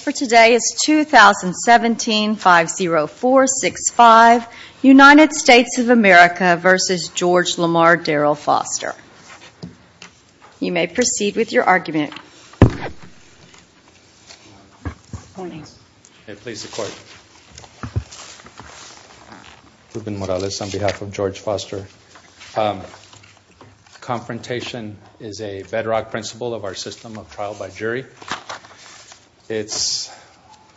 for today is 2017-50465, United States of America v. George Lamar Darryl Foster. You may proceed with your argument. Ruben Morales on behalf of George Foster. Confrontation is a bedrock principle of our system of trial by jury. It's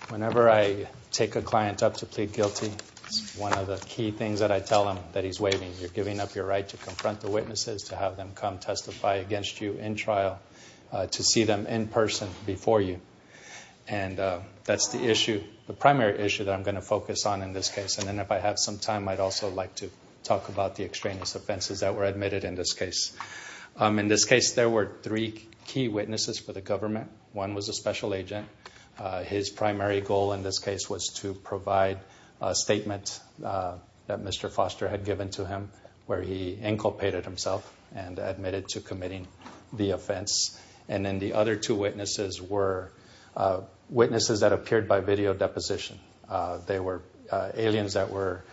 whenever I take a client up to plead guilty, it's one of the key things that I tell him that he's waiving. You're giving up your right to confront the witnesses, to have them come testify against you in trial, to see them in person before you. And that's the issue, the primary issue that I'm going to focus on in this case. And then if I have some time, I'd also like to talk about the extraneous offenses that were the key witnesses for the government. One was a special agent. His primary goal in this case was to provide a statement that Mr. Foster had given to him where he inculpated himself and admitted to committing the offense. And then the other two witnesses were witnesses that appeared by video deposition. They were aliens that were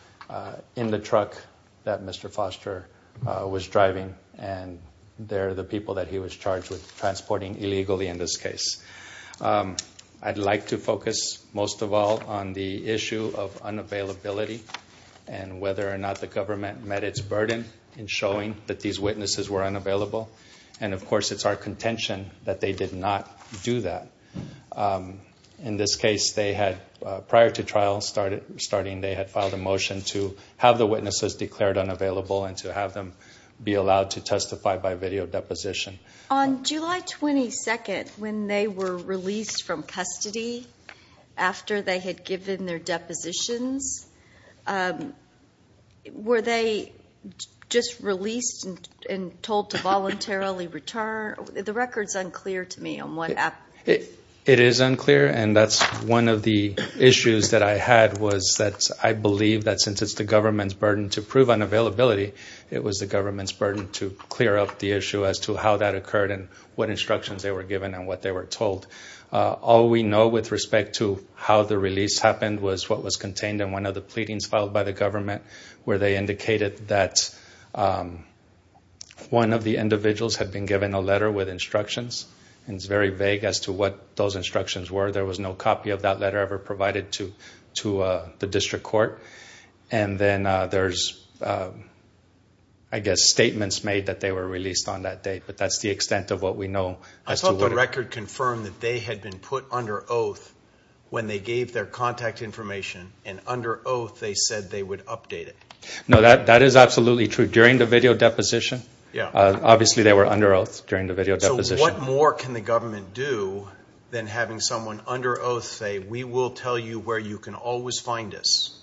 in the truck that Mr. Foster was driving, and they're the people that he was charged with transporting illegally in this case. I'd like to focus most of all on the issue of unavailability and whether or not the government met its burden in showing that these witnesses were unavailable. And of course, it's our contention that they did not do that. In this case, prior to trial starting, they had filed a motion to have the witnesses declared unavailable and to have them be allowed to testify by video deposition. On July 22nd, when they were released from custody after they had given their depositions, were they just released and told to voluntarily return? The record's unclear to me on what happened. It is unclear, and that's one of the issues that I had was that I believe that since it's the government's burden to prove unavailability, it was the government's burden to clear up the issue as to how that occurred and what instructions they were given and what they were told. All we know with respect to how the release happened was what was contained in one of the pleadings filed by the government, where they indicated that one of the individuals had been given a letter with instructions, and it's very vague as to what those instructions were. There was no copy of that letter ever provided to the district court. And then there's, I guess, statements made that they were released on that date, but that's the extent of what we know as to what occurred. I thought the record confirmed that they had been put under oath when they gave their contact information, and under oath they said they would update it. No, that is absolutely true. During the video deposition, obviously they were under oath during the video deposition. What more can the government do than having someone under oath say, we will tell you where you can always find us?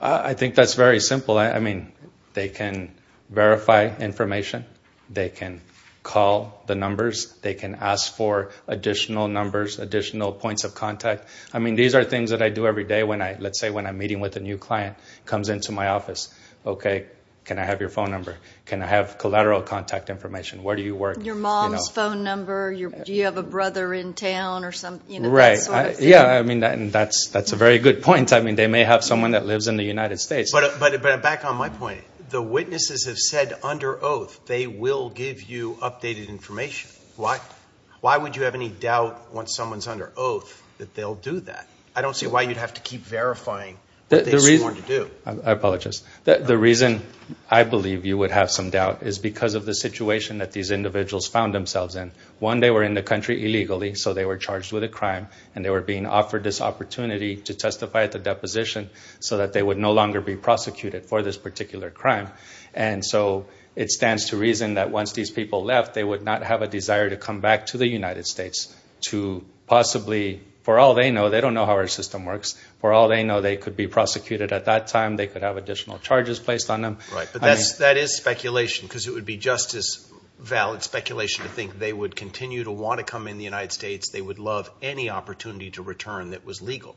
I think that's very simple. I mean, they can verify information. They can call the numbers. They can ask for additional numbers, additional points of contact. I mean, these are things that I do every day when I, let's say when I'm meeting with a new client, comes into my office, okay, can I have your phone number? Can I have collateral contact information? Where do you work? Your mom's phone number. Do you have a brother in town or something? Right. Yeah, I mean, that's a very good point. I mean, they may have someone that lives in the United States. But back on my point, the witnesses have said under oath they will give you updated information. Why would you have any doubt once someone's under oath that they'll do that? I don't see why you'd have to keep verifying what they sworn to do. I apologize. The reason I believe you would have some doubt is because of the situation that these individuals found themselves in. One, they were in the country illegally, so they were charged with a crime, and they were being offered this opportunity to testify at the deposition so that they would no longer be prosecuted for this particular crime. And so, it stands to reason that once these people left, they would not have a desire to come back to the United States to possibly, for all they know, they don't know how our system could have additional charges placed on them. Right. But that is speculation, because it would be just as valid speculation to think they would continue to want to come in the United States. They would love any opportunity to return that was legal.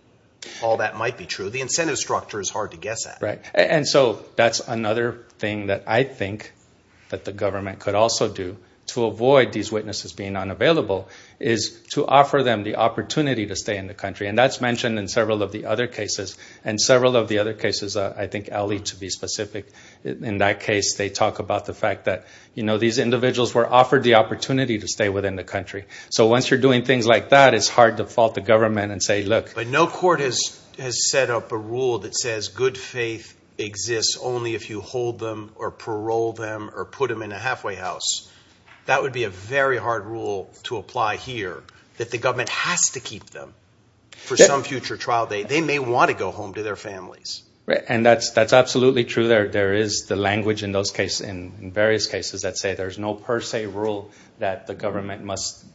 All that might be true. The incentive structure is hard to guess at. And so, that's another thing that I think that the government could also do to avoid these witnesses being unavailable, is to offer them the opportunity to stay in the country. And that's mentioned in several of the other cases. And several of the other cases, I think Ali, to be specific, in that case, they talk about the fact that, you know, these individuals were offered the opportunity to stay within the country. So, once you're doing things like that, it's hard to fault the government and say, look. But no court has set up a rule that says good faith exists only if you hold them or parole them or put them in a halfway house. That would be a very hard rule to apply here, that the government has to keep them for some future trial date. They may want to go home to their families. And that's absolutely true. There is the language in those cases, in various cases, that say there's no per se rule that the government must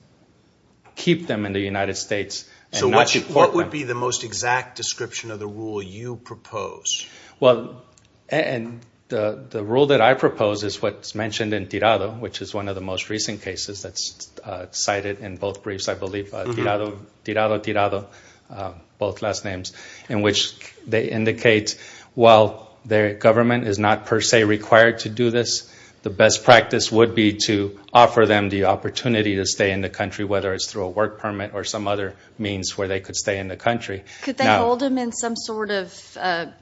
keep them in the United States and not deport them. So, what would be the most exact description of the rule you propose? Well, and the rule that I propose is what's mentioned in Tirado, which is one of the most well-known, Tirado, Tirado, both last names, in which they indicate while their government is not per se required to do this, the best practice would be to offer them the opportunity to stay in the country, whether it's through a work permit or some other means where they could stay in the country. Could they hold them in some sort of detention?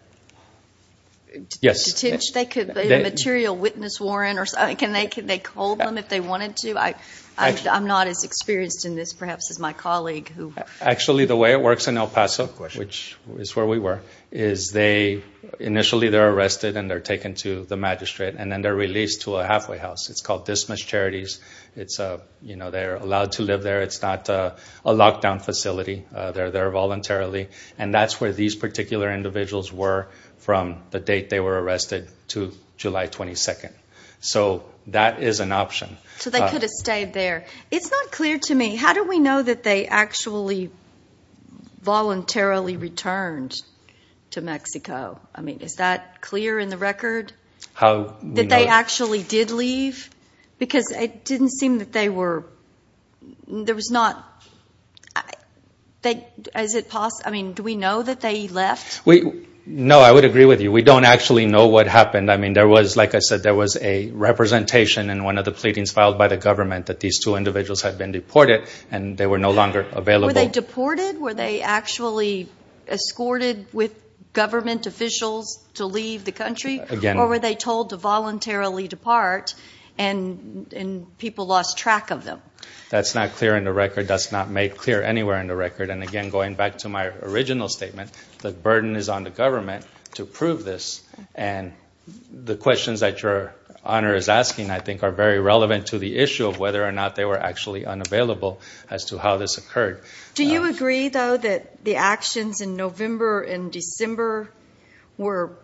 Yes. They could be a material witness warrant or something. Can they hold them if they wanted to? I'm not as experienced in this, perhaps, as my colleague, who... Actually, the way it works in El Paso, which is where we were, is they, initially they're arrested and they're taken to the magistrate, and then they're released to a halfway house. It's called Dismiss Charities. It's, you know, they're allowed to live there. It's not a lockdown facility. They're there voluntarily. And that's where these particular individuals were from the date they were arrested to July 22nd. So, that is an option. So, they could have stayed there. It's not clear to me, how do we know that they actually voluntarily returned to Mexico? I mean, is that clear in the record? How do we know? That they actually did leave? Because it didn't seem that they were... There was not... Is it possible... I mean, do we know that they left? No, I would agree with you. We don't actually know what happened. I mean, there was, like the pleadings filed by the government that these two individuals had been deported, and they were no longer available. Were they deported? Were they actually escorted with government officials to leave the country? Again... Or were they told to voluntarily depart, and people lost track of them? That's not clear in the record. That's not made clear anywhere in the record. And again, going back to my original statement, the burden is on the government to prove this. And the issue of whether or not they were actually unavailable, as to how this occurred. Do you agree, though, that the actions in November and December were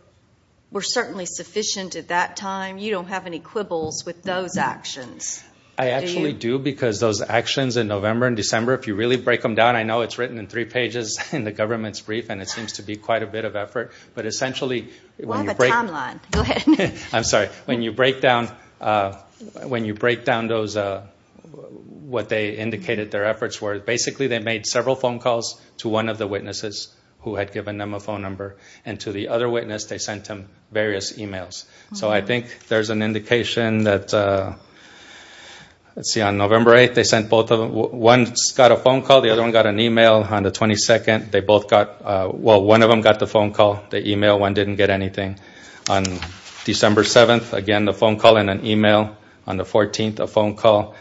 certainly sufficient at that time? You don't have any quibbles with those actions? I actually do, because those actions in November and December, if you really break them down, I know it's written in three pages in the government's brief, and it seems to be quite a bit of effort. But essentially... We'll have a timeline. Go ahead. I'm sorry. When you break down what they indicated their efforts were, basically, they made several phone calls to one of the witnesses who had given them a phone number. And to the other witness, they sent them various emails. So I think there's an indication that... Let's see, on November 8th, they sent both of them... One got a phone call, the other one got an email. On the 22nd, they both got... Well, one didn't get an email, one didn't get anything. On December 7th, again, a phone call and an email. On the 14th, a phone call.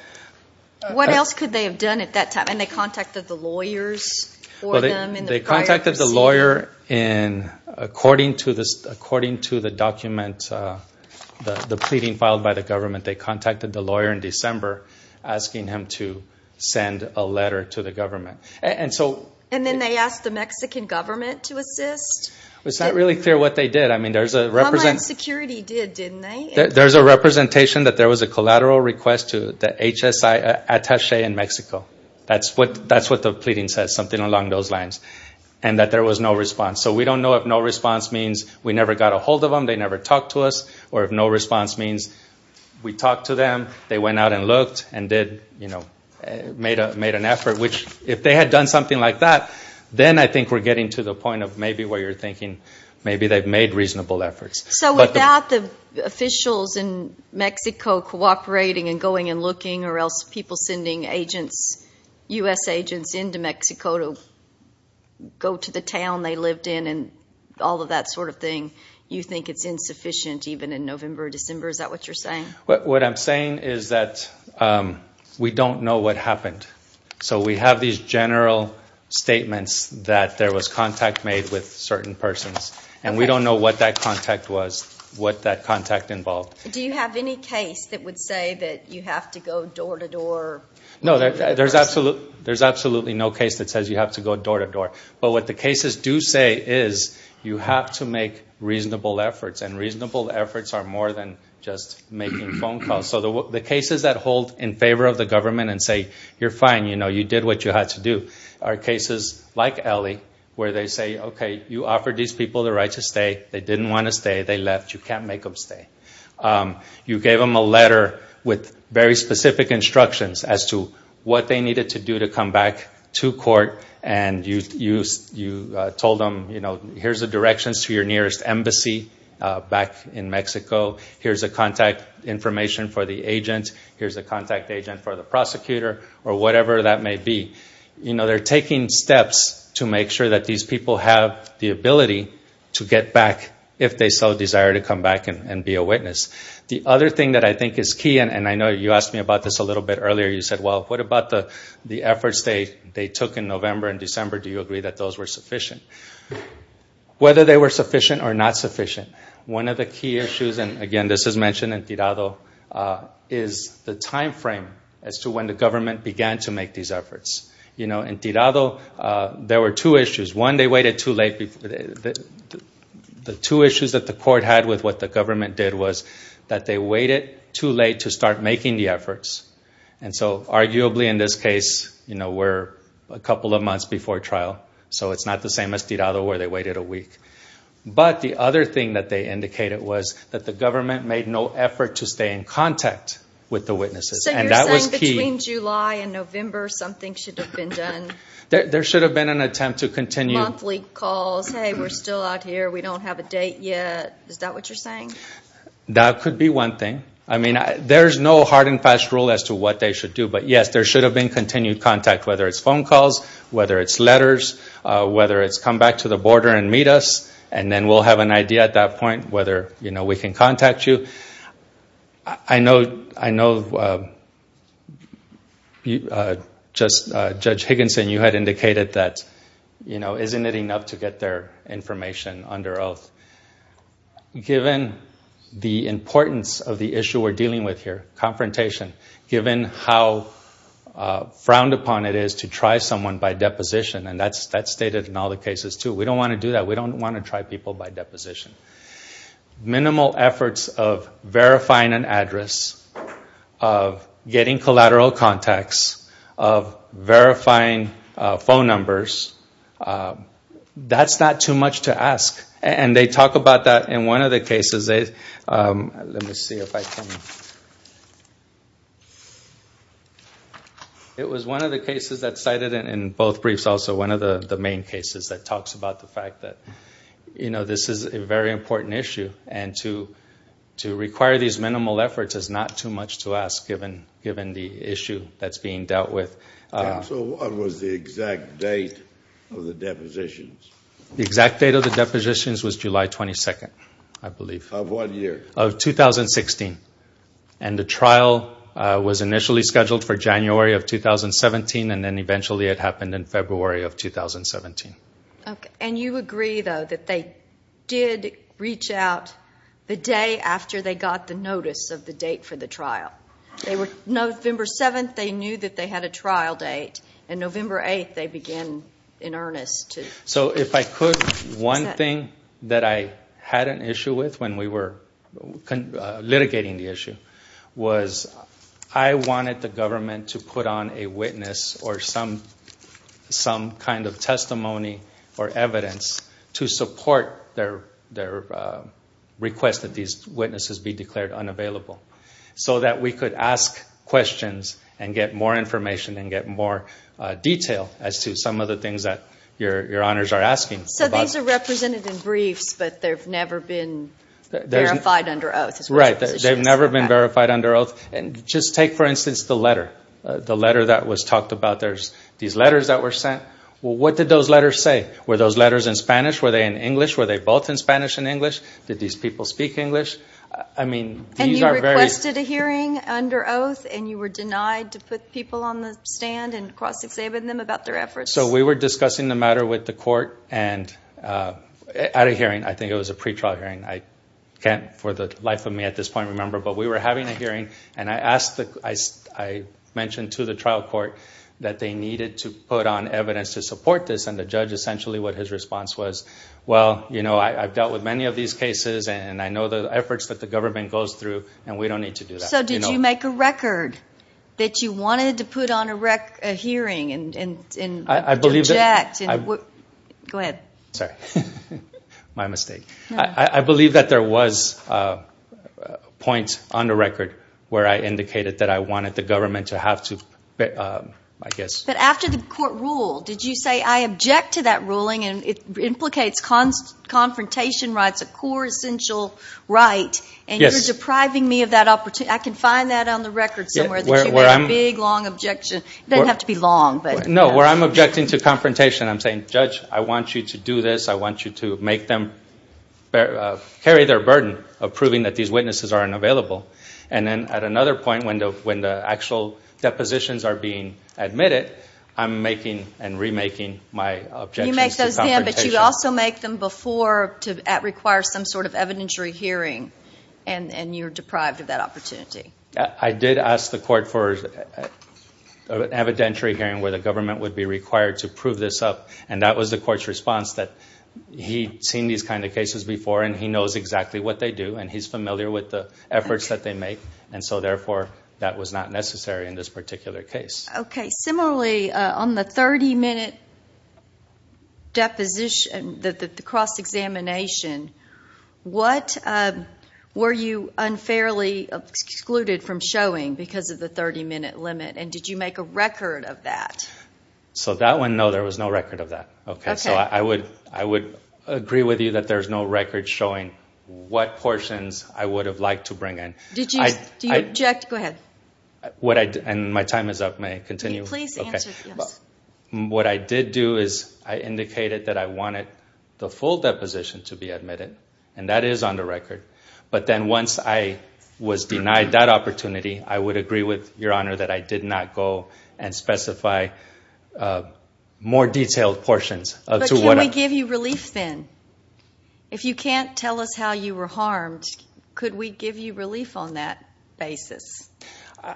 What else could they have done at that time? And they contacted the lawyers for them in the prior... Well, they contacted the lawyer in... According to the document, the pleading filed by the government, they contacted the lawyer in December, asking him to send a letter to the government. And so... And then they asked the Mexican government to assist? It's not really clear what they did. I mean, there's a... Homeland Security did, didn't they? There's a representation that there was a collateral request to the HSI attache in Mexico. That's what the pleading says, something along those lines. And that there was no response. So we don't know if no response means we never got a hold of them, they never talked to us, or if no response means we talked to them, they went out and looked and made an effort. Which, if they had done something like that, then I think we're getting to the point of maybe where you're thinking maybe they've made reasonable efforts. So without the officials in Mexico cooperating and going and looking, or else people sending agents, U.S. agents, into Mexico to go to the town they lived in and all of that sort of thing, you think it's insufficient, even in November or December? Is that what you're saying? What I'm saying is that we don't know what happened. So we have these general statements that there was contact made with certain persons. And we don't know what that contact was, what that contact involved. Do you have any case that would say that you have to go door to door? No, there's absolutely no case that says you have to go door to door. But what the cases do say is you have to make reasonable efforts. And reasonable efforts are more than just making phone calls. So the cases that hold in favor of the government and say, you're the right to stay, they didn't want to stay, they left, you can't make them stay. You gave them a letter with very specific instructions as to what they needed to do to come back to court and you told them here's the directions to your nearest embassy back in Mexico. Here's the contact information for the agent, here's the contact agent for the prosecutor, or whatever that may be. They're taking steps to make sure that these people have the ability to get back if they so desire to come back and be a witness. The other thing that I think is key, and I know you asked me about this a little bit earlier, you said well what about the efforts they took in November and December, do you agree that those were sufficient? Whether they were sufficient or not sufficient, one of the key issues, and again this is mentioned in Tirado, is the time frame as to when the witnesses. In Tirado, there were two issues. One, they waited too late. The two issues that the court had with what the government did was that they waited too late to start making the efforts, and so arguably in this case, we're a couple of months before trial, so it's not the same as Tirado where they waited a week. But the other thing that they indicated was that the government made no effort to stay in contact with the witnesses, and that was key. So you're saying between July and November, something should have been done? There should have been an attempt to continue. Monthly calls, hey we're still out here, we don't have a date yet, is that what you're saying? That could be one thing. There's no hard and fast rule as to what they should do, but yes, there should have been continued contact, whether it's phone calls, whether it's letters, whether it's come back to the border and meet us, and then we'll have an idea at that point whether we can contact you. I know Judge Higginson, you had indicated that isn't it enough to get their information under oath? Given the importance of the issue we're dealing with here, confrontation, given how frowned upon it is to try someone by deposition, and that's stated in all the cases too, we don't want to do that, we don't want to try people by deposition. Minimal efforts of verifying an address, of getting collateral contacts, of verifying phone numbers, that's not too much to ask. And they talk about that in one of the cases, let me see if I can, it was one of the cases that's cited in both briefs also, one of the main cases that talks about the fact that this is a very important issue, and to require these minimal efforts is not too much to ask, given the issue that's being dealt with. So what was the exact date of the depositions? The exact date of the depositions was July 22nd, I believe. Of what year? Of 2016. And the trial was initially scheduled for January of 2017, and then eventually it happened in February of 2017. Okay, and you agree though that they did reach out the day after they got the notice of the date for the trial? They were, November 7th they knew that they had a trial date, and November 8th they began in earnest to... So if I could, one thing that I had an issue with when we were litigating the issue, was I wanted the some kind of testimony or evidence to support their request that these witnesses be declared unavailable, so that we could ask questions and get more information and get more detail as to some of the things that your honors are asking. So these are represented in briefs, but they've never been verified under oath? Right, they've never been verified under oath. And just take for instance the letter, the letter that was talked about. There's these letters that were sent. Well, what did those letters say? Were those letters in Spanish? Were they in English? Were they both in Spanish and English? Did these people speak English? And you requested a hearing under oath, and you were denied to put people on the stand and cross-examine them about their efforts? So we were discussing the matter with the court at a hearing, I think it was a pretrial hearing, I can't for the life of me at this point remember, but we were having a hearing, and I asked, I mentioned to the trial court that they needed to put on evidence to support this, and the judge, essentially what his response was, well, you know, I've dealt with many of these cases, and I know the efforts that the government goes through, and we don't need to do that. So did you make a record that you wanted to put on a hearing and object? Go ahead. Sorry, my mistake. I believe that there was a point on the record where I indicated that I wanted the government to have to, I guess. But after the court ruled, did you say, I object to that ruling, and it implicates confrontation rights, a core essential right, and you're depriving me of that opportunity. I can find that on the record somewhere that you made a big, long objection. It doesn't have to be long. No, where I'm objecting to confrontation, I'm saying, judge, I want you to do this. I want you to make them carry their burden of proving that these witnesses are unavailable. And then at another point, when the actual depositions are being admitted, I'm making and remaking my objections to confrontation. You make those then, but you also make them before, to require some sort of evidentiary hearing, and you're deprived of that opportunity. I did ask the court for an evidentiary hearing where the government would be required to prove this up, and that was the case. He'd seen these kinds of cases before, and he knows exactly what they do, and he's familiar with the efforts that they make, and so therefore, that was not necessary in this particular case. Okay. Similarly, on the 30-minute deposition, the cross-examination, what were you unfairly excluded from showing because of the 30-minute limit, and did you make a record of that? So that one, no, there was no record of that. I would agree with you that there's no record showing what portions I would have liked to bring in. Do you object? Go ahead. And my time is up. May I continue? Please answer, yes. What I did do is I indicated that I wanted the full deposition to be admitted, and that is on the record, but then once I was denied that opportunity, I would agree with Your Honor that I did not go and specify more detailed portions. But can we give you relief then? If you can't tell us how you were harmed, could we give you relief on that basis?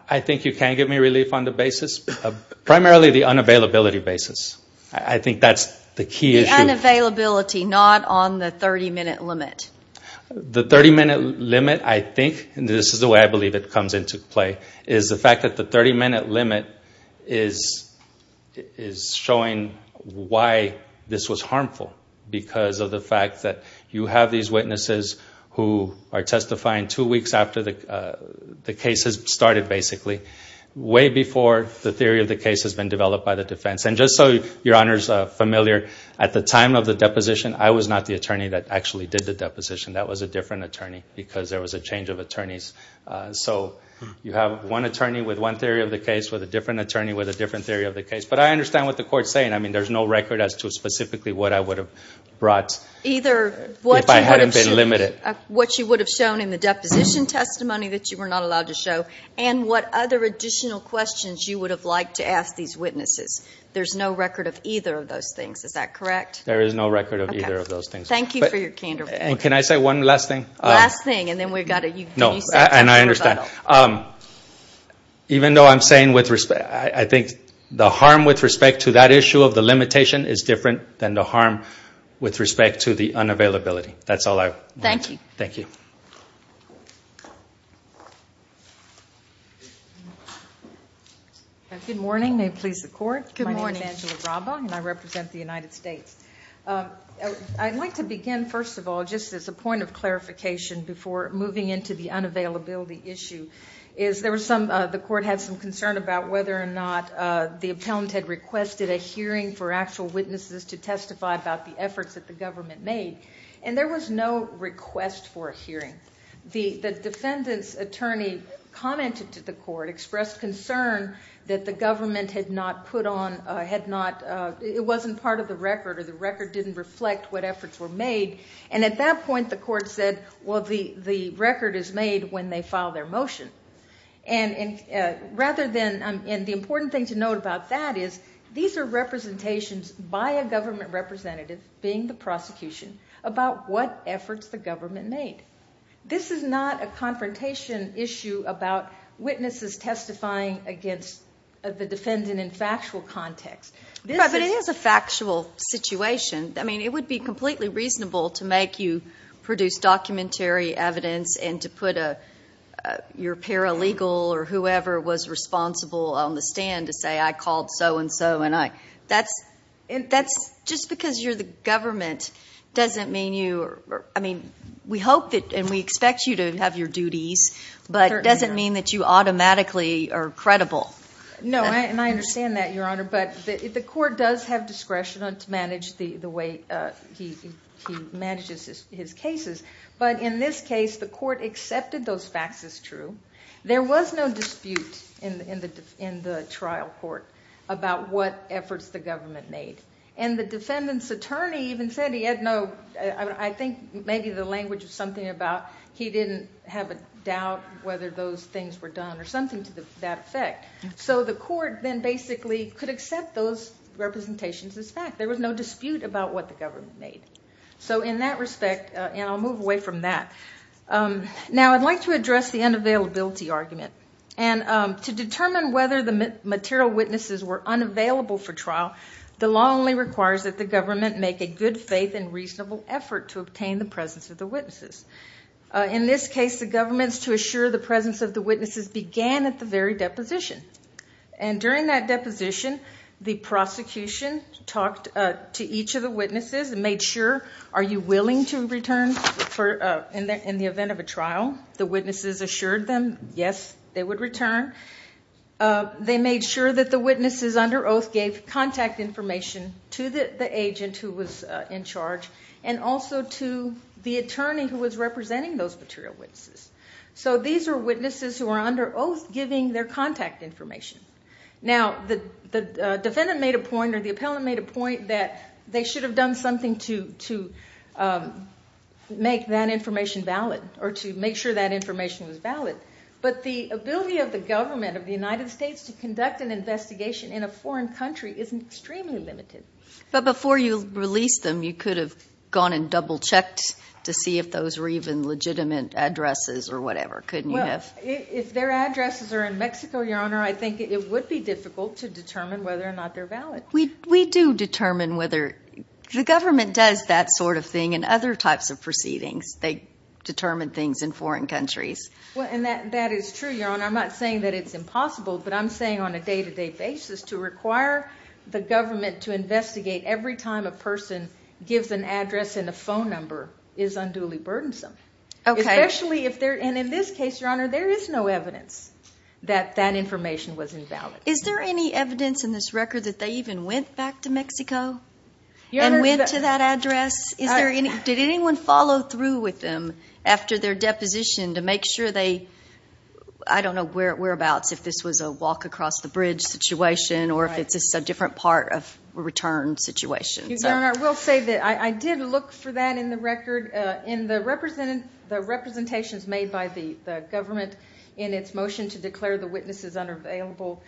I think you can give me relief on the basis of primarily the unavailability basis. I think that's the key issue. The unavailability, not on the 30-minute limit. The 30-minute limit, I think, and this is the way I believe it comes into play, is the fact that the 30-minute limit is showing why this was harmful, because of the fact that you have these witnesses who are testifying two weeks after the case has started, basically, way before the theory of the case has been developed by the defense. And just so Your Honor is familiar, at the time of the deposition, I was not the attorney that actually did the deposition. That was a different attorney, because there was a change of theory of the case, with a different attorney, with a different theory of the case. But I understand what the Court's saying. I mean, there's no record as to specifically what I would have brought, if I hadn't been limited. Either what you would have shown in the deposition testimony that you were not allowed to show, and what other additional questions you would have liked to ask these witnesses. There's no record of either of those things. Is that correct? There is no record of either of those things. Thank you for your candor. Can I say one last thing? Last thing, and then we've got to... And I understand. Even though I'm saying, I think the harm with respect to that issue of the limitation is different than the harm with respect to the unavailability. That's all I want to say. Thank you. Thank you. Good morning. May it please the Court. Good morning. My name is Angela Braba, and I represent the United States. I'd like to begin, first of all, just as a point of clarification before moving into the unavailability issue, is there was some... The Court had some concern about whether or not the appellant had requested a hearing for actual witnesses to testify about the efforts that the government made. And there was no request for a hearing. The defendant's attorney commented to the Court, expressed concern that the government had not put on... It wasn't part of the record, or the record didn't reflect what efforts were made. And at that point, the Court said, well, the record is made when they file their motion. And rather than... And the important thing to note about that is, these are representations by a government representative, being the prosecution, about what efforts the government made. This is not a confrontation issue about witnesses testifying against the defendant in factual context. But it is a factual situation. I mean, it would be completely reasonable to make you produce documentary evidence and to put your paralegal or whoever was responsible on the stand to say, I called so-and-so and I... That's just because you're the government doesn't mean you... I mean, we hope that and we expect you to have your duties, but it doesn't mean that you automatically are credible. No, and I understand that, Your Honor, but the Court does have discretion to manage the way he manages his cases. But in this case, the Court accepted those facts as true. There was no dispute in the trial court about what efforts the government made. And the defendant's attorney even said he had no... I think maybe the language was something about he didn't have a doubt whether those things were done or something to that effect. So the Court then basically could accept those representations as fact. There was no dispute about what the government made. So in that respect, and I'll move away from that. Now, I'd like to address the unavailability argument. And to determine whether the material witnesses were unavailable for trial, the law only requires that the government make a good faith and reasonable effort to obtain the presence of the witnesses. In this case, the government's to assure the presence of the witnesses began at the very deposition. And during that deposition, the prosecution talked to each of the witnesses and made sure are you willing to return in the event of a trial? The witnesses assured them, yes, they would return. They made sure that the witnesses under oath gave contact information to the agent who was representing those material witnesses. So these are witnesses who are under oath giving their contact information. Now, the defendant made a point or the appellant made a point that they should have done something to make that information valid or to make sure that information was valid. But the ability of the government of the United States to conduct an investigation in a foreign country is extremely limited. But before you released them, you could have gone and double checked to see if those were even legitimate addresses or whatever, couldn't you have? If their addresses are in Mexico, Your Honor, I think it would be difficult to determine whether or not they're valid. We do determine whether the government does that sort of thing in other types of proceedings. They determine things in foreign countries. Well, and that is true, Your Honor. I'm not saying that it's impossible, but I'm saying on a day-to-day basis to require the every time a person gives an address and a phone number is unduly burdensome. Especially if they're, and in this case, Your Honor, there is no evidence that that information was invalid. Is there any evidence in this record that they even went back to Mexico and went to that address? Did anyone follow through with them after their deposition to make sure they, I don't know whereabouts, if this was a walk across the bridge situation or if it's a different part of a return situation? Your Honor, I will say that I did look for that in the record. The representations made by the government in its motion to declare the witnesses unavailable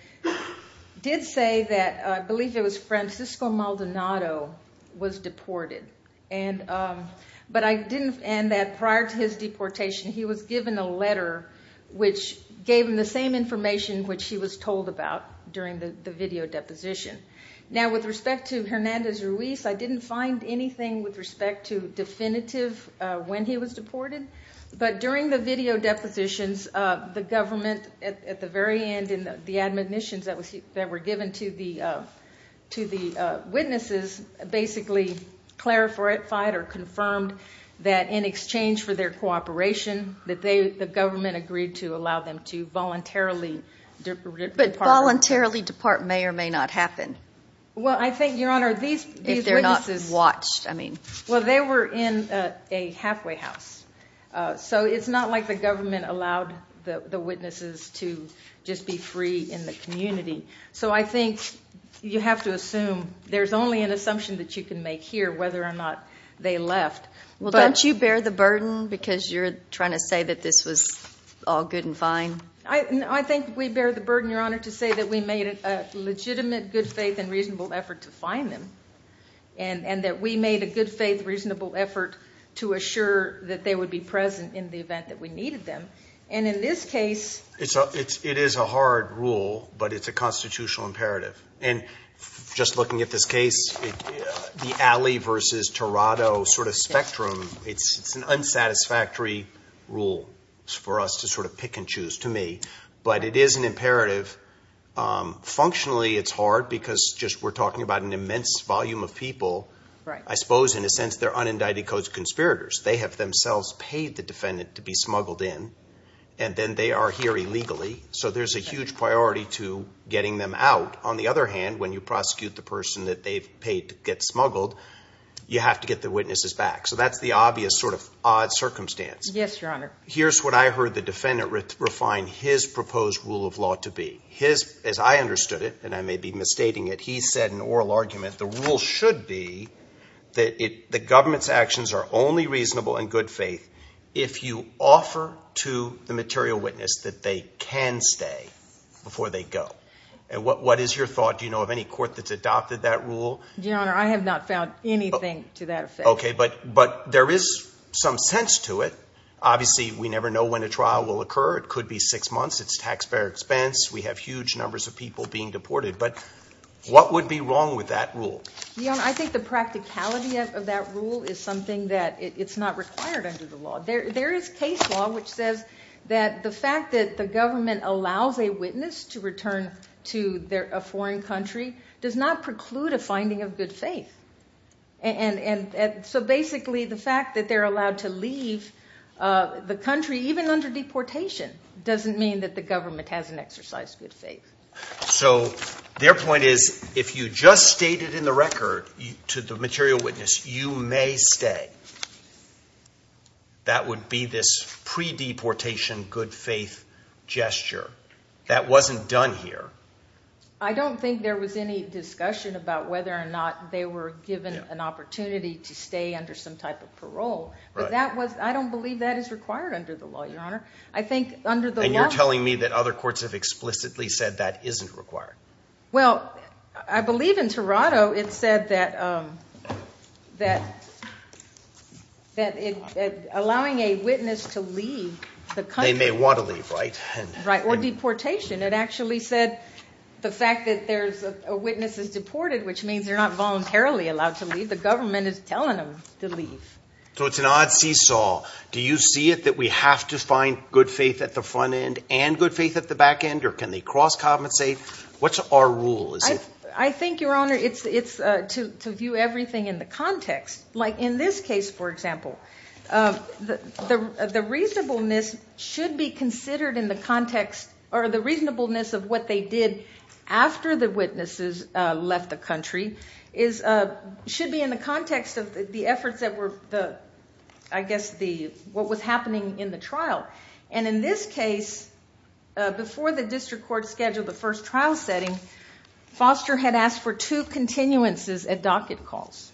did say that, I believe it was Francisco Maldonado was deported. But I didn't, and that prior to his deportation, he was given a letter which gave him the same video deposition. Now, with respect to Hernandez Ruiz, I didn't find anything with respect to definitive when he was deported. But during the video depositions, the government, at the very end in the admonitions that were given to the witnesses, basically clarified or confirmed that in exchange for their cooperation, that the government agreed to allow them to voluntarily depart. May or may not happen. Well, I think, Your Honor, these witnesses... If they're not watched, I mean. Well, they were in a halfway house. So it's not like the government allowed the witnesses to just be free in the community. So I think you have to assume there's only an assumption that you can make here whether or not they left. Well, don't you bear the burden because you're trying to say that this was all good and fine? I think we bear the burden, Your Honor, to say that we made a legitimate, good faith and reasonable effort to find them. And that we made a good faith, reasonable effort to assure that they would be present in the event that we needed them. And in this case... It is a hard rule, but it's a constitutional imperative. And just looking at this case, the Alley v. Tirado sort of spectrum, it's an unsatisfactory rule for us to sort of pick and choose, but it is an imperative. Functionally, it's hard because we're talking about an immense volume of people. I suppose, in a sense, they're unindicted codes of conspirators. They have themselves paid the defendant to be smuggled in, and then they are here illegally. So there's a huge priority to getting them out. On the other hand, when you prosecute the person that they've paid to get smuggled, you have to get the witnesses back. So that's the obvious sort of odd circumstance. Yes, Your Honor. Here's what I heard the defendant refine his proposed rule of law to be. His, as I understood it, and I may be misstating it, he said in oral argument, the rule should be that the government's actions are only reasonable in good faith if you offer to the material witness that they can stay before they go. And what is your thought? Do you know of any court that's adopted that rule? Your Honor, I have not found anything to that effect. Okay, but there is some sense to it. Obviously, we never know when a trial will occur. It could be six months. It's taxpayer expense. We have huge numbers of people being deported. But what would be wrong with that rule? Your Honor, I think the practicality of that rule is something that it's not required under the law. There is case law which says that the fact that the government allows a witness to return to a foreign country does not preclude a finding of good faith. And so basically, the fact that they're allowed to leave the country, even under deportation, doesn't mean that the government hasn't exercised good faith. So their point is if you just stated in the record to the material witness you may stay, that would be this pre-deportation good faith gesture. That wasn't done here. I don't think there was any discussion about whether or not they were given an opportunity to stay under some type of parole. But I don't believe that is required under the law, Your Honor. I think under the law— And you're telling me that other courts have explicitly said that isn't required? Well, I believe in Toronto, it said that allowing a witness to leave the country— They may want to leave, right? Right, or deportation. It actually said the fact that a witness is deported, which means they're not voluntarily allowed to leave. The government is telling them to leave. So it's an odd seesaw. Do you see it that we have to find good faith at the front end and good faith at the back end? Or can they cross compensate? What's our rule? I think, Your Honor, it's to view everything in the context. Like in this case, for example, the reasonableness should be considered in the context— the reasonableness of what they did after the witnesses left the country should be in the context of the efforts that were, I guess, what was happening in the trial. And in this case, before the district court scheduled the first trial setting, Foster had asked for two continuances at docket calls.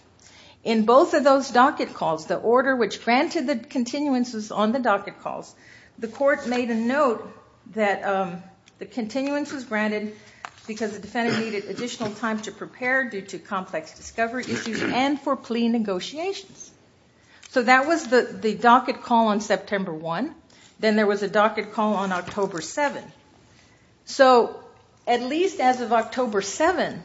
In both of those docket calls, the order which granted the continuances on the docket calls, the court made a note that the continuance was granted because the defendant needed additional time to prepare due to complex discovery issues and for plea negotiations. So that was the docket call on September 1. Then there was a docket call on October 7. So at least as of October 7,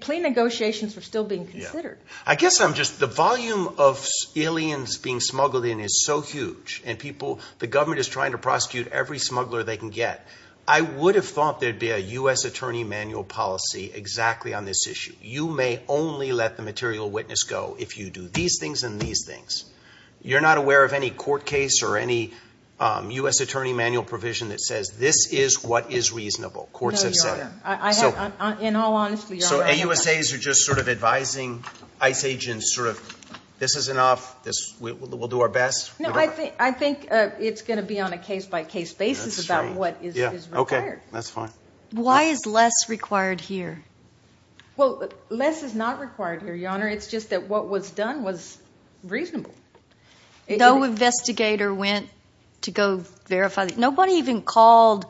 plea negotiations were still being considered. I guess I'm just—the volume of aliens being smuggled in is so huge, and people—the government is trying to prosecute every smuggler they can get. I would have thought there'd be a U.S. attorney manual policy exactly on this issue. You may only let the material witness go if you do these things and these things. You're not aware of any court case or any U.S. attorney manual provision that says this is what is reasonable, courts have said. No, Your Honor. In all honesty, Your Honor— So AUSAs are just sort of advising ICE agents sort of, this is enough, we'll do our best? No, I think it's going to be on a case-by-case basis about what is required. That's fine. Why is less required here? Well, less is not required here, Your Honor. It's just that what was done was reasonable. No investigator went to go verify—nobody even called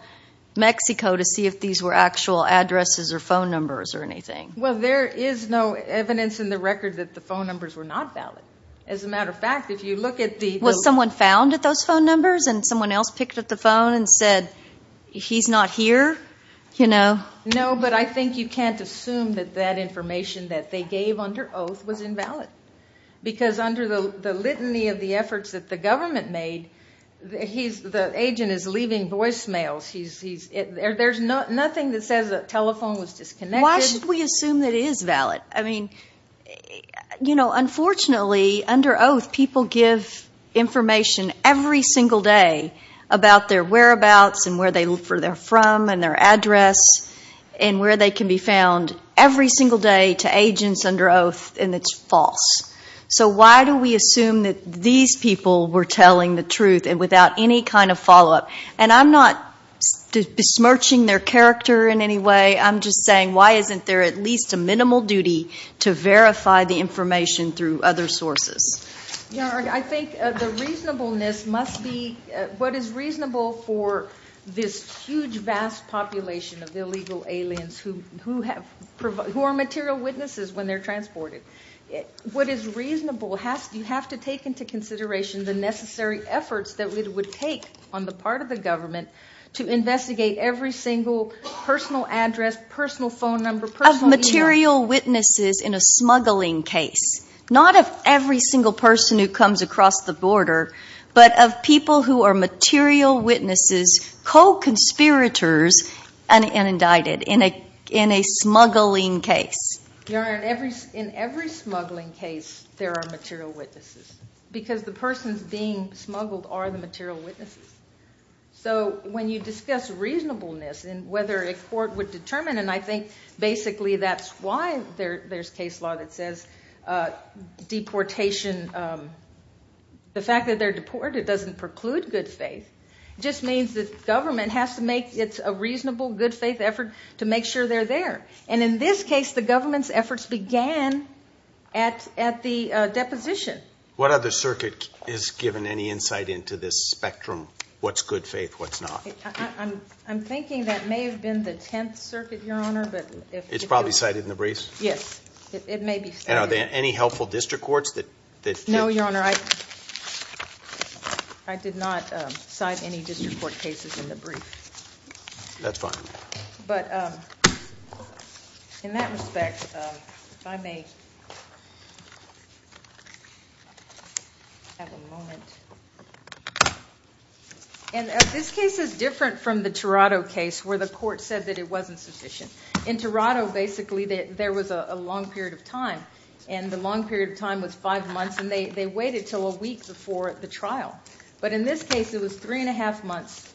Mexico to see if these were actual addresses or phone numbers or anything. Well, there is no evidence in the record that the phone numbers were not valid. As a matter of fact, if you look at the— Was someone found at those phone numbers and someone else picked up the phone and said, he's not here, you know? No, but I think you can't assume that that information that they gave under oath was invalid because under the litany of the efforts that the government made, the agent is leaving voicemails. There's nothing that says the telephone was disconnected. Why should we assume that it is valid? I mean, you know, unfortunately, under oath, people give information every single day about their whereabouts and where they're from and their address and where they can be found every single day to agents under oath, and it's false. So why do we assume that these people were telling the truth and without any kind of follow-up? And I'm not besmirching their character in any way. I'm just saying, why isn't there at least a minimal duty to verify the information through other sources? I think the reasonableness must be what is reasonable for this huge, vast population of illegal aliens who are material witnesses when they're transported. What is reasonable, you have to take into consideration the necessary efforts that it would take on the part of the government to investigate every single personal address, personal phone number, personal email. Of material witnesses in a smuggling case. Not of every single person who comes across the border, but of people who are material witnesses, co-conspirators and indicted in a smuggling case. Your Honor, in every smuggling case, there are material witnesses because the persons being smuggled are the material witnesses. So when you discuss reasonableness and whether a court would determine, and I think basically that's why there's case law that says deportation, the fact that they're deported doesn't preclude good faith. It just means that government has to make it a reasonable, good faith effort to make sure they're there. And in this case, the government's efforts began at the deposition. What other circuit is given any insight into this spectrum? What's good faith, what's not? I'm thinking that may have been the 10th circuit, Your Honor. It's probably cited in the briefs? Yes, it may be cited. And are there any helpful district courts? No, Your Honor, I did not cite any district court cases in the brief. That's fine. But in that respect, if I may have a moment. And this case is different from the Toronto case where the court said that it wasn't sufficient. In Toronto, basically, there was a long period of time, and the long period of time was five months, and they waited until a week before the trial. But in this case, it was three and a half months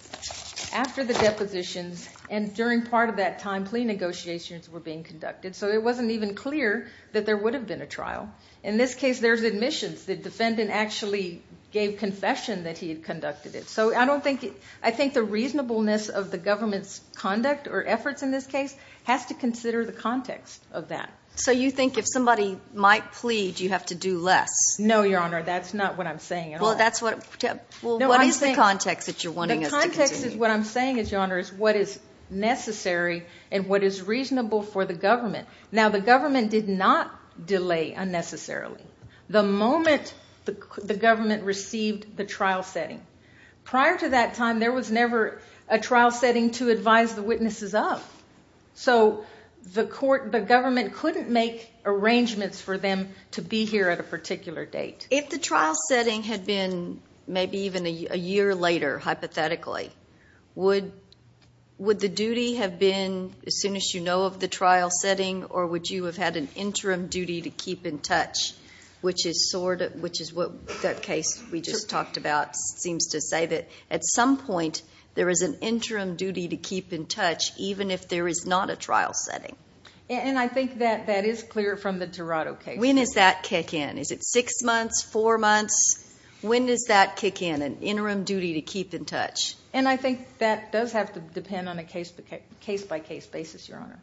after the depositions, and during part of that time, plea negotiations were being conducted. So it wasn't even clear that there would have been a trial. In this case, there's admissions. The defendant actually gave confession that he had conducted it. So I think the reasonableness of the government's conduct or efforts in this case has to consider the context of that. So you think if somebody might plead, you have to do less? No, Your Honor, that's not what I'm saying at all. Well, what is the context that you're wanting us to continue? The context of what I'm saying is, Your Honor, is what is necessary and what is reasonable for the government. Now, the government did not delay unnecessarily. The moment the government received the trial setting. Prior to that time, there was never a trial setting to advise the witnesses of. So the government couldn't make arrangements for them to be here at a particular date. If the trial setting had been maybe even a year later, hypothetically, would the duty have been as soon as you know of the trial setting, or would you have had an interim duty to keep in touch, which is what that case we just talked about seems to say, that at some point, there is an interim duty to keep in touch, even if there is not a trial setting. And I think that that is clear from the Dorado case. When is that kick in? Is it six months, four months? When does that kick in, an interim duty to keep in touch? And I think that does have to depend on a case-by-case basis, Your Honor.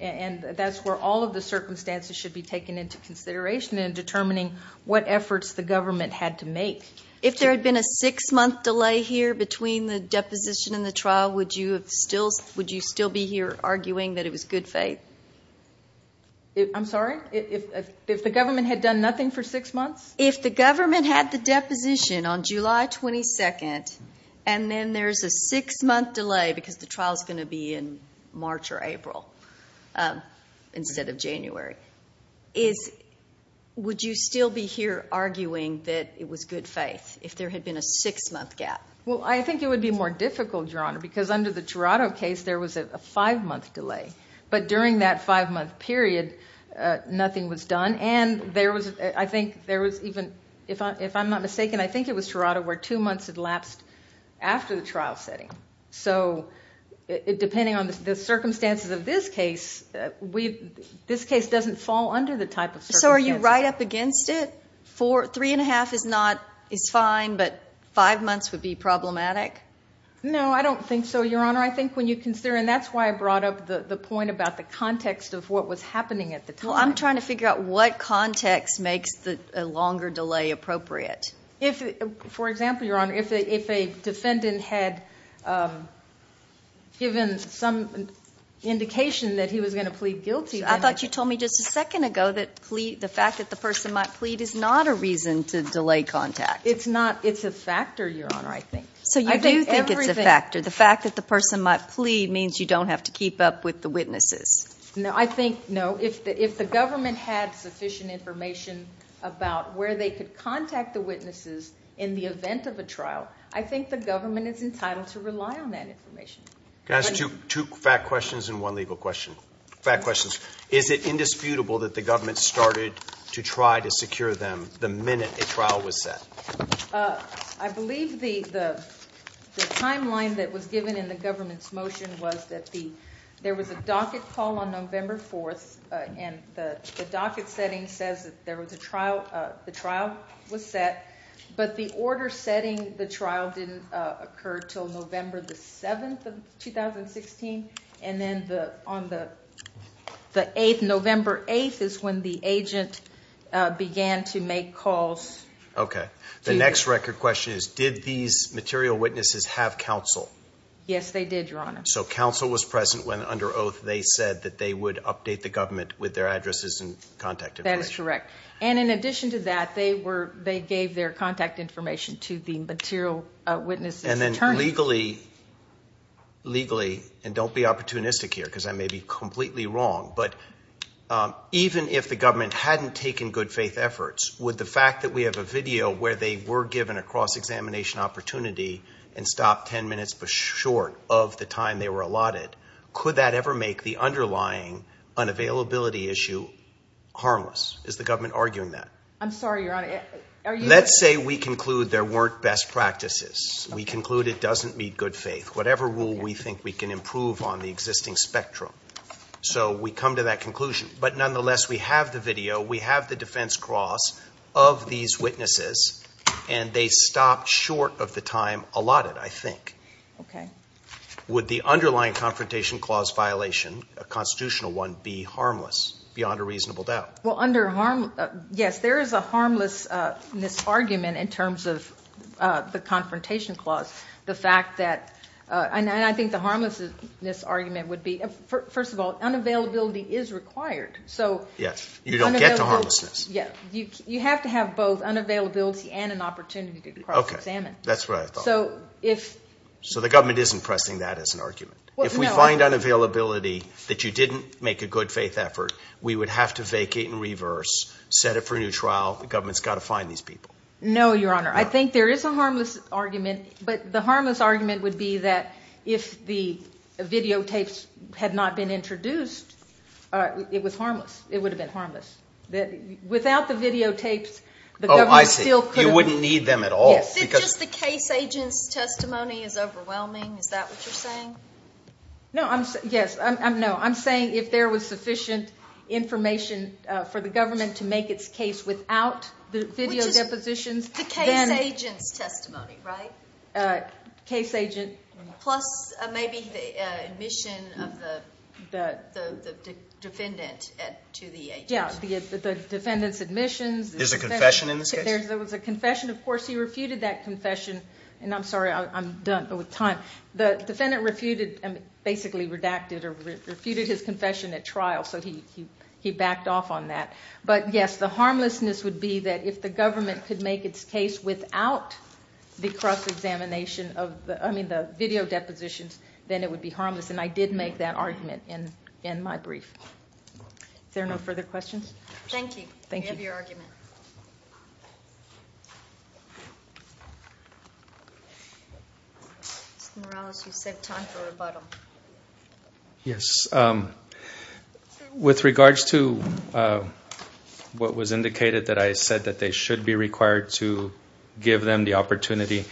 And that's where all of the circumstances should be taken into consideration in determining what efforts the government had to make. If there had been a six-month delay here between the deposition and the trial, would you still be here arguing that it was good faith? I'm sorry? If the government had done nothing for six months? If the government had the deposition on July 22nd, and then there's a six-month delay because the trial is going to be in March or April instead of January, would you still be here arguing that it was good faith if there had been a six-month gap? Well, I think it would be more difficult, Your Honor, because under the Dorado case, there was a five-month delay. But during that five-month period, nothing was done. And I think there was even, if I'm not mistaken, I think it was Dorado where two months had lapsed after the trial setting. So depending on the circumstances of this case, this case doesn't fall under the type of circumstances. So are you right up against it? Three and a half is fine, but five months would be problematic? No, I don't think so, Your Honor. I think when you consider, and that's why I brought up the point about the context of what was happening at the time. I'm trying to figure out what context makes a longer delay appropriate. For example, Your Honor, if a defendant had given some indication that he was going to plead guilty. I thought you told me just a second ago that the fact that the person might plead is not a reason to delay contact. It's not. It's a factor, Your Honor, I think. So you do think it's a factor. The fact that the person might plead means you don't have to keep up with the witnesses. No, I think, no, if the government had sufficient information about where they could contact the witnesses in the event of a trial, I think the government is entitled to rely on that information. Can I ask two fact questions and one legal question? Fact questions. Is it indisputable that the government started to try to secure them the minute a trial was set? Uh, I believe the timeline that was given in the government's motion was that there was a docket call on November 4th, and the docket setting says that the trial was set, but the order setting the trial didn't occur until November the 7th of 2016, and then on the 8th, November 8th, is when the agent began to make calls. Okay. The next record question is, did these material witnesses have counsel? Yes, they did, Your Honor. So counsel was present when under oath they said that they would update the government with their addresses and contact information. That is correct. And in addition to that, they were, they gave their contact information to the material witnesses attorney. And then legally, legally, and don't be opportunistic here because I may be completely wrong, but even if the government hadn't taken good faith efforts, would the fact that we have a video where they were given a cross-examination opportunity and stopped 10 minutes short of the time they were allotted, could that ever make the underlying unavailability issue harmless? Is the government arguing that? I'm sorry, Your Honor. Let's say we conclude there weren't best practices. We conclude it doesn't meet good faith. Whatever rule we think we can improve on the existing spectrum. So we come to that conclusion. But nonetheless, we have the video, we have the defense cross of these witnesses, and they stopped short of the time allotted, I think. Okay. Would the underlying confrontation clause violation, a constitutional one, be harmless beyond a reasonable doubt? Well, under harm, yes, there is a harmlessness argument in terms of the confrontation clause. The fact that, and I think the harmlessness argument would be, first of all, unavailability is required. Yes. You don't get to harmlessness. Yes. You have to have both unavailability and an opportunity to cross-examine. That's what I thought. So if... So the government isn't pressing that as an argument. If we find unavailability that you didn't make a good faith effort, we would have to vacate and reverse, set up for a new trial. The government's got to find these people. No, Your Honor. I think there is a harmless argument, but the harmless argument would be that if the videotapes had not been introduced, it was harmless. It would have been harmless. Without the videotapes, the government still could have... Oh, I see. You wouldn't need them at all because... Is it just the case agent's testimony is overwhelming? Is that what you're saying? No, I'm... Yes. No, I'm saying if there was sufficient information for the government to make its case without the video depositions... Which is the case agent's testimony, right? Case agent... Plus maybe the admission of the defendant to the agency. Yeah, the defendant's admissions... There's a confession in this case? There was a confession. Of course, he refuted that confession. And I'm sorry, I'm done with time. The defendant basically redacted or refuted his confession at trial. So he backed off on that. But yes, the harmlessness would be that if the government could make its case without the cross-examination of the... I mean, the video depositions, then it would be harmless. And I did make that argument in my brief. Is there no further questions? Thank you. Thank you. We have your argument. Mr. Morales, you said time for rebuttal. Yes. With regards to what was indicated, that I said that they should be required to give them the opportunity.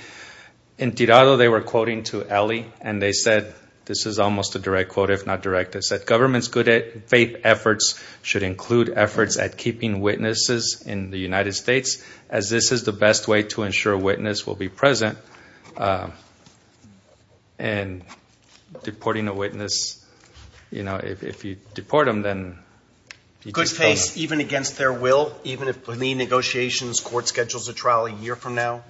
In Tirado, they were quoting to Elie, and they said... This is almost a direct quote, if not direct. It said, government's good faith efforts should include efforts at keeping witnesses in the United States, as this is the best way to ensure a witness will be present. And deporting a witness, you know, if you deport them, then... Good faith, even against their will? Even if, in the negotiations, court schedules a trial a year from now?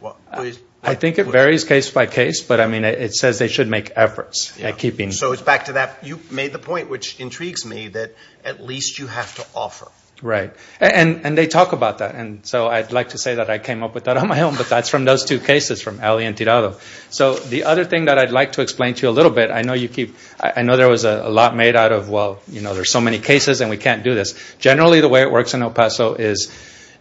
I think it varies case by case. But I mean, it says they should make efforts at keeping... So it's back to that. You made the point, which intrigues me, that at least you have to offer. Right. And they talk about that. And so I'd like to say that I came up with that on my own. But that's from those two cases, from Elie and Tirado. So the other thing that I'd like to explain to you a little bit, I know you keep... I know there was a lot made out of, well, you know, there's so many cases and we can't do this. Generally, the way it works in El Paso is,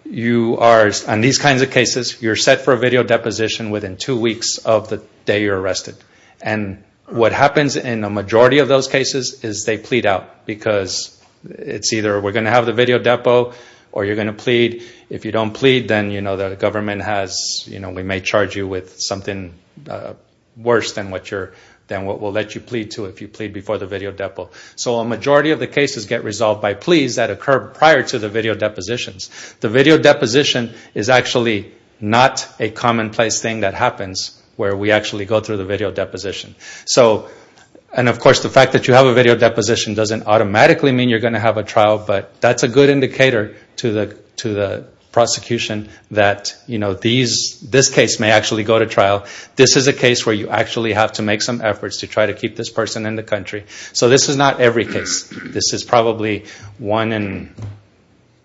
you are, on these kinds of cases, you're set for a video deposition within two weeks of the day you're arrested. And what happens in the majority of those cases is they plead out. Because it's either we're going to have the video depo, or you're going to plead. If you don't plead, then, you know, the government has... You know, we may charge you with something worse than what you're... than what we'll let you plead to if you plead before the video depo. So a majority of the cases get resolved by pleas that occur prior to the video depositions. The video deposition is actually not a commonplace thing that happens where we actually go through the video deposition. So, and of course, the fact that you have a video deposition doesn't automatically mean you're going to have a trial. But that's a good indicator to the prosecution that, you know, this case may actually go to trial. This is a case where you actually have to make some efforts to try to keep this person in the country. So this is not every case. This is probably one in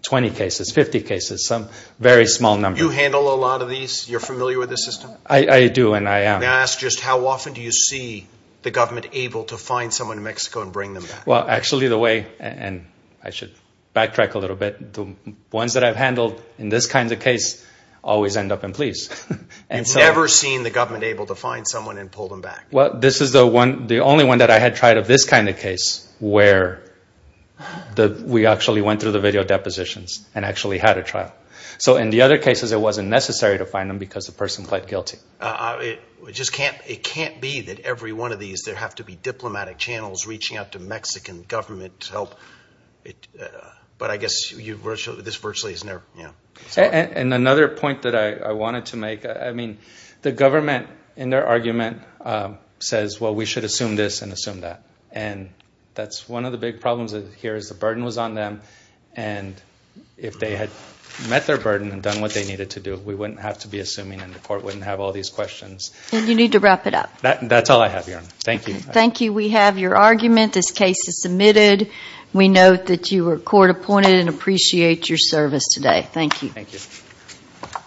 20 cases, 50 cases, some very small number. You handle a lot of these? You're familiar with the system? I do, and I am. May I ask just how often do you see the government able to find someone in Mexico and bring them back? Actually, the way, and I should backtrack a little bit, the ones that I've handled in this kind of case always end up in pleas. You've never seen the government able to find someone and pull them back? Well, this is the only one that I had tried of this kind of case where we actually went through the video depositions and actually had a trial. So in the other cases, it wasn't necessary to find them because the person pled guilty. It can't be that every one of these, there have to be diplomatic channels reaching out to Mexican government to help. But I guess this virtually has never, yeah. And another point that I wanted to make, I mean, the government in their argument says, well, we should assume this and assume that. And that's one of the big problems here is the burden was on them. And if they had met their burden and done what they needed to do, we wouldn't have to be assuming and the court wouldn't have all these questions. And you need to wrap it up. That's all I have, Your Honor. Thank you. Thank you. We have your argument. This case is submitted. We note that you were court appointed and appreciate your service today. Thank you.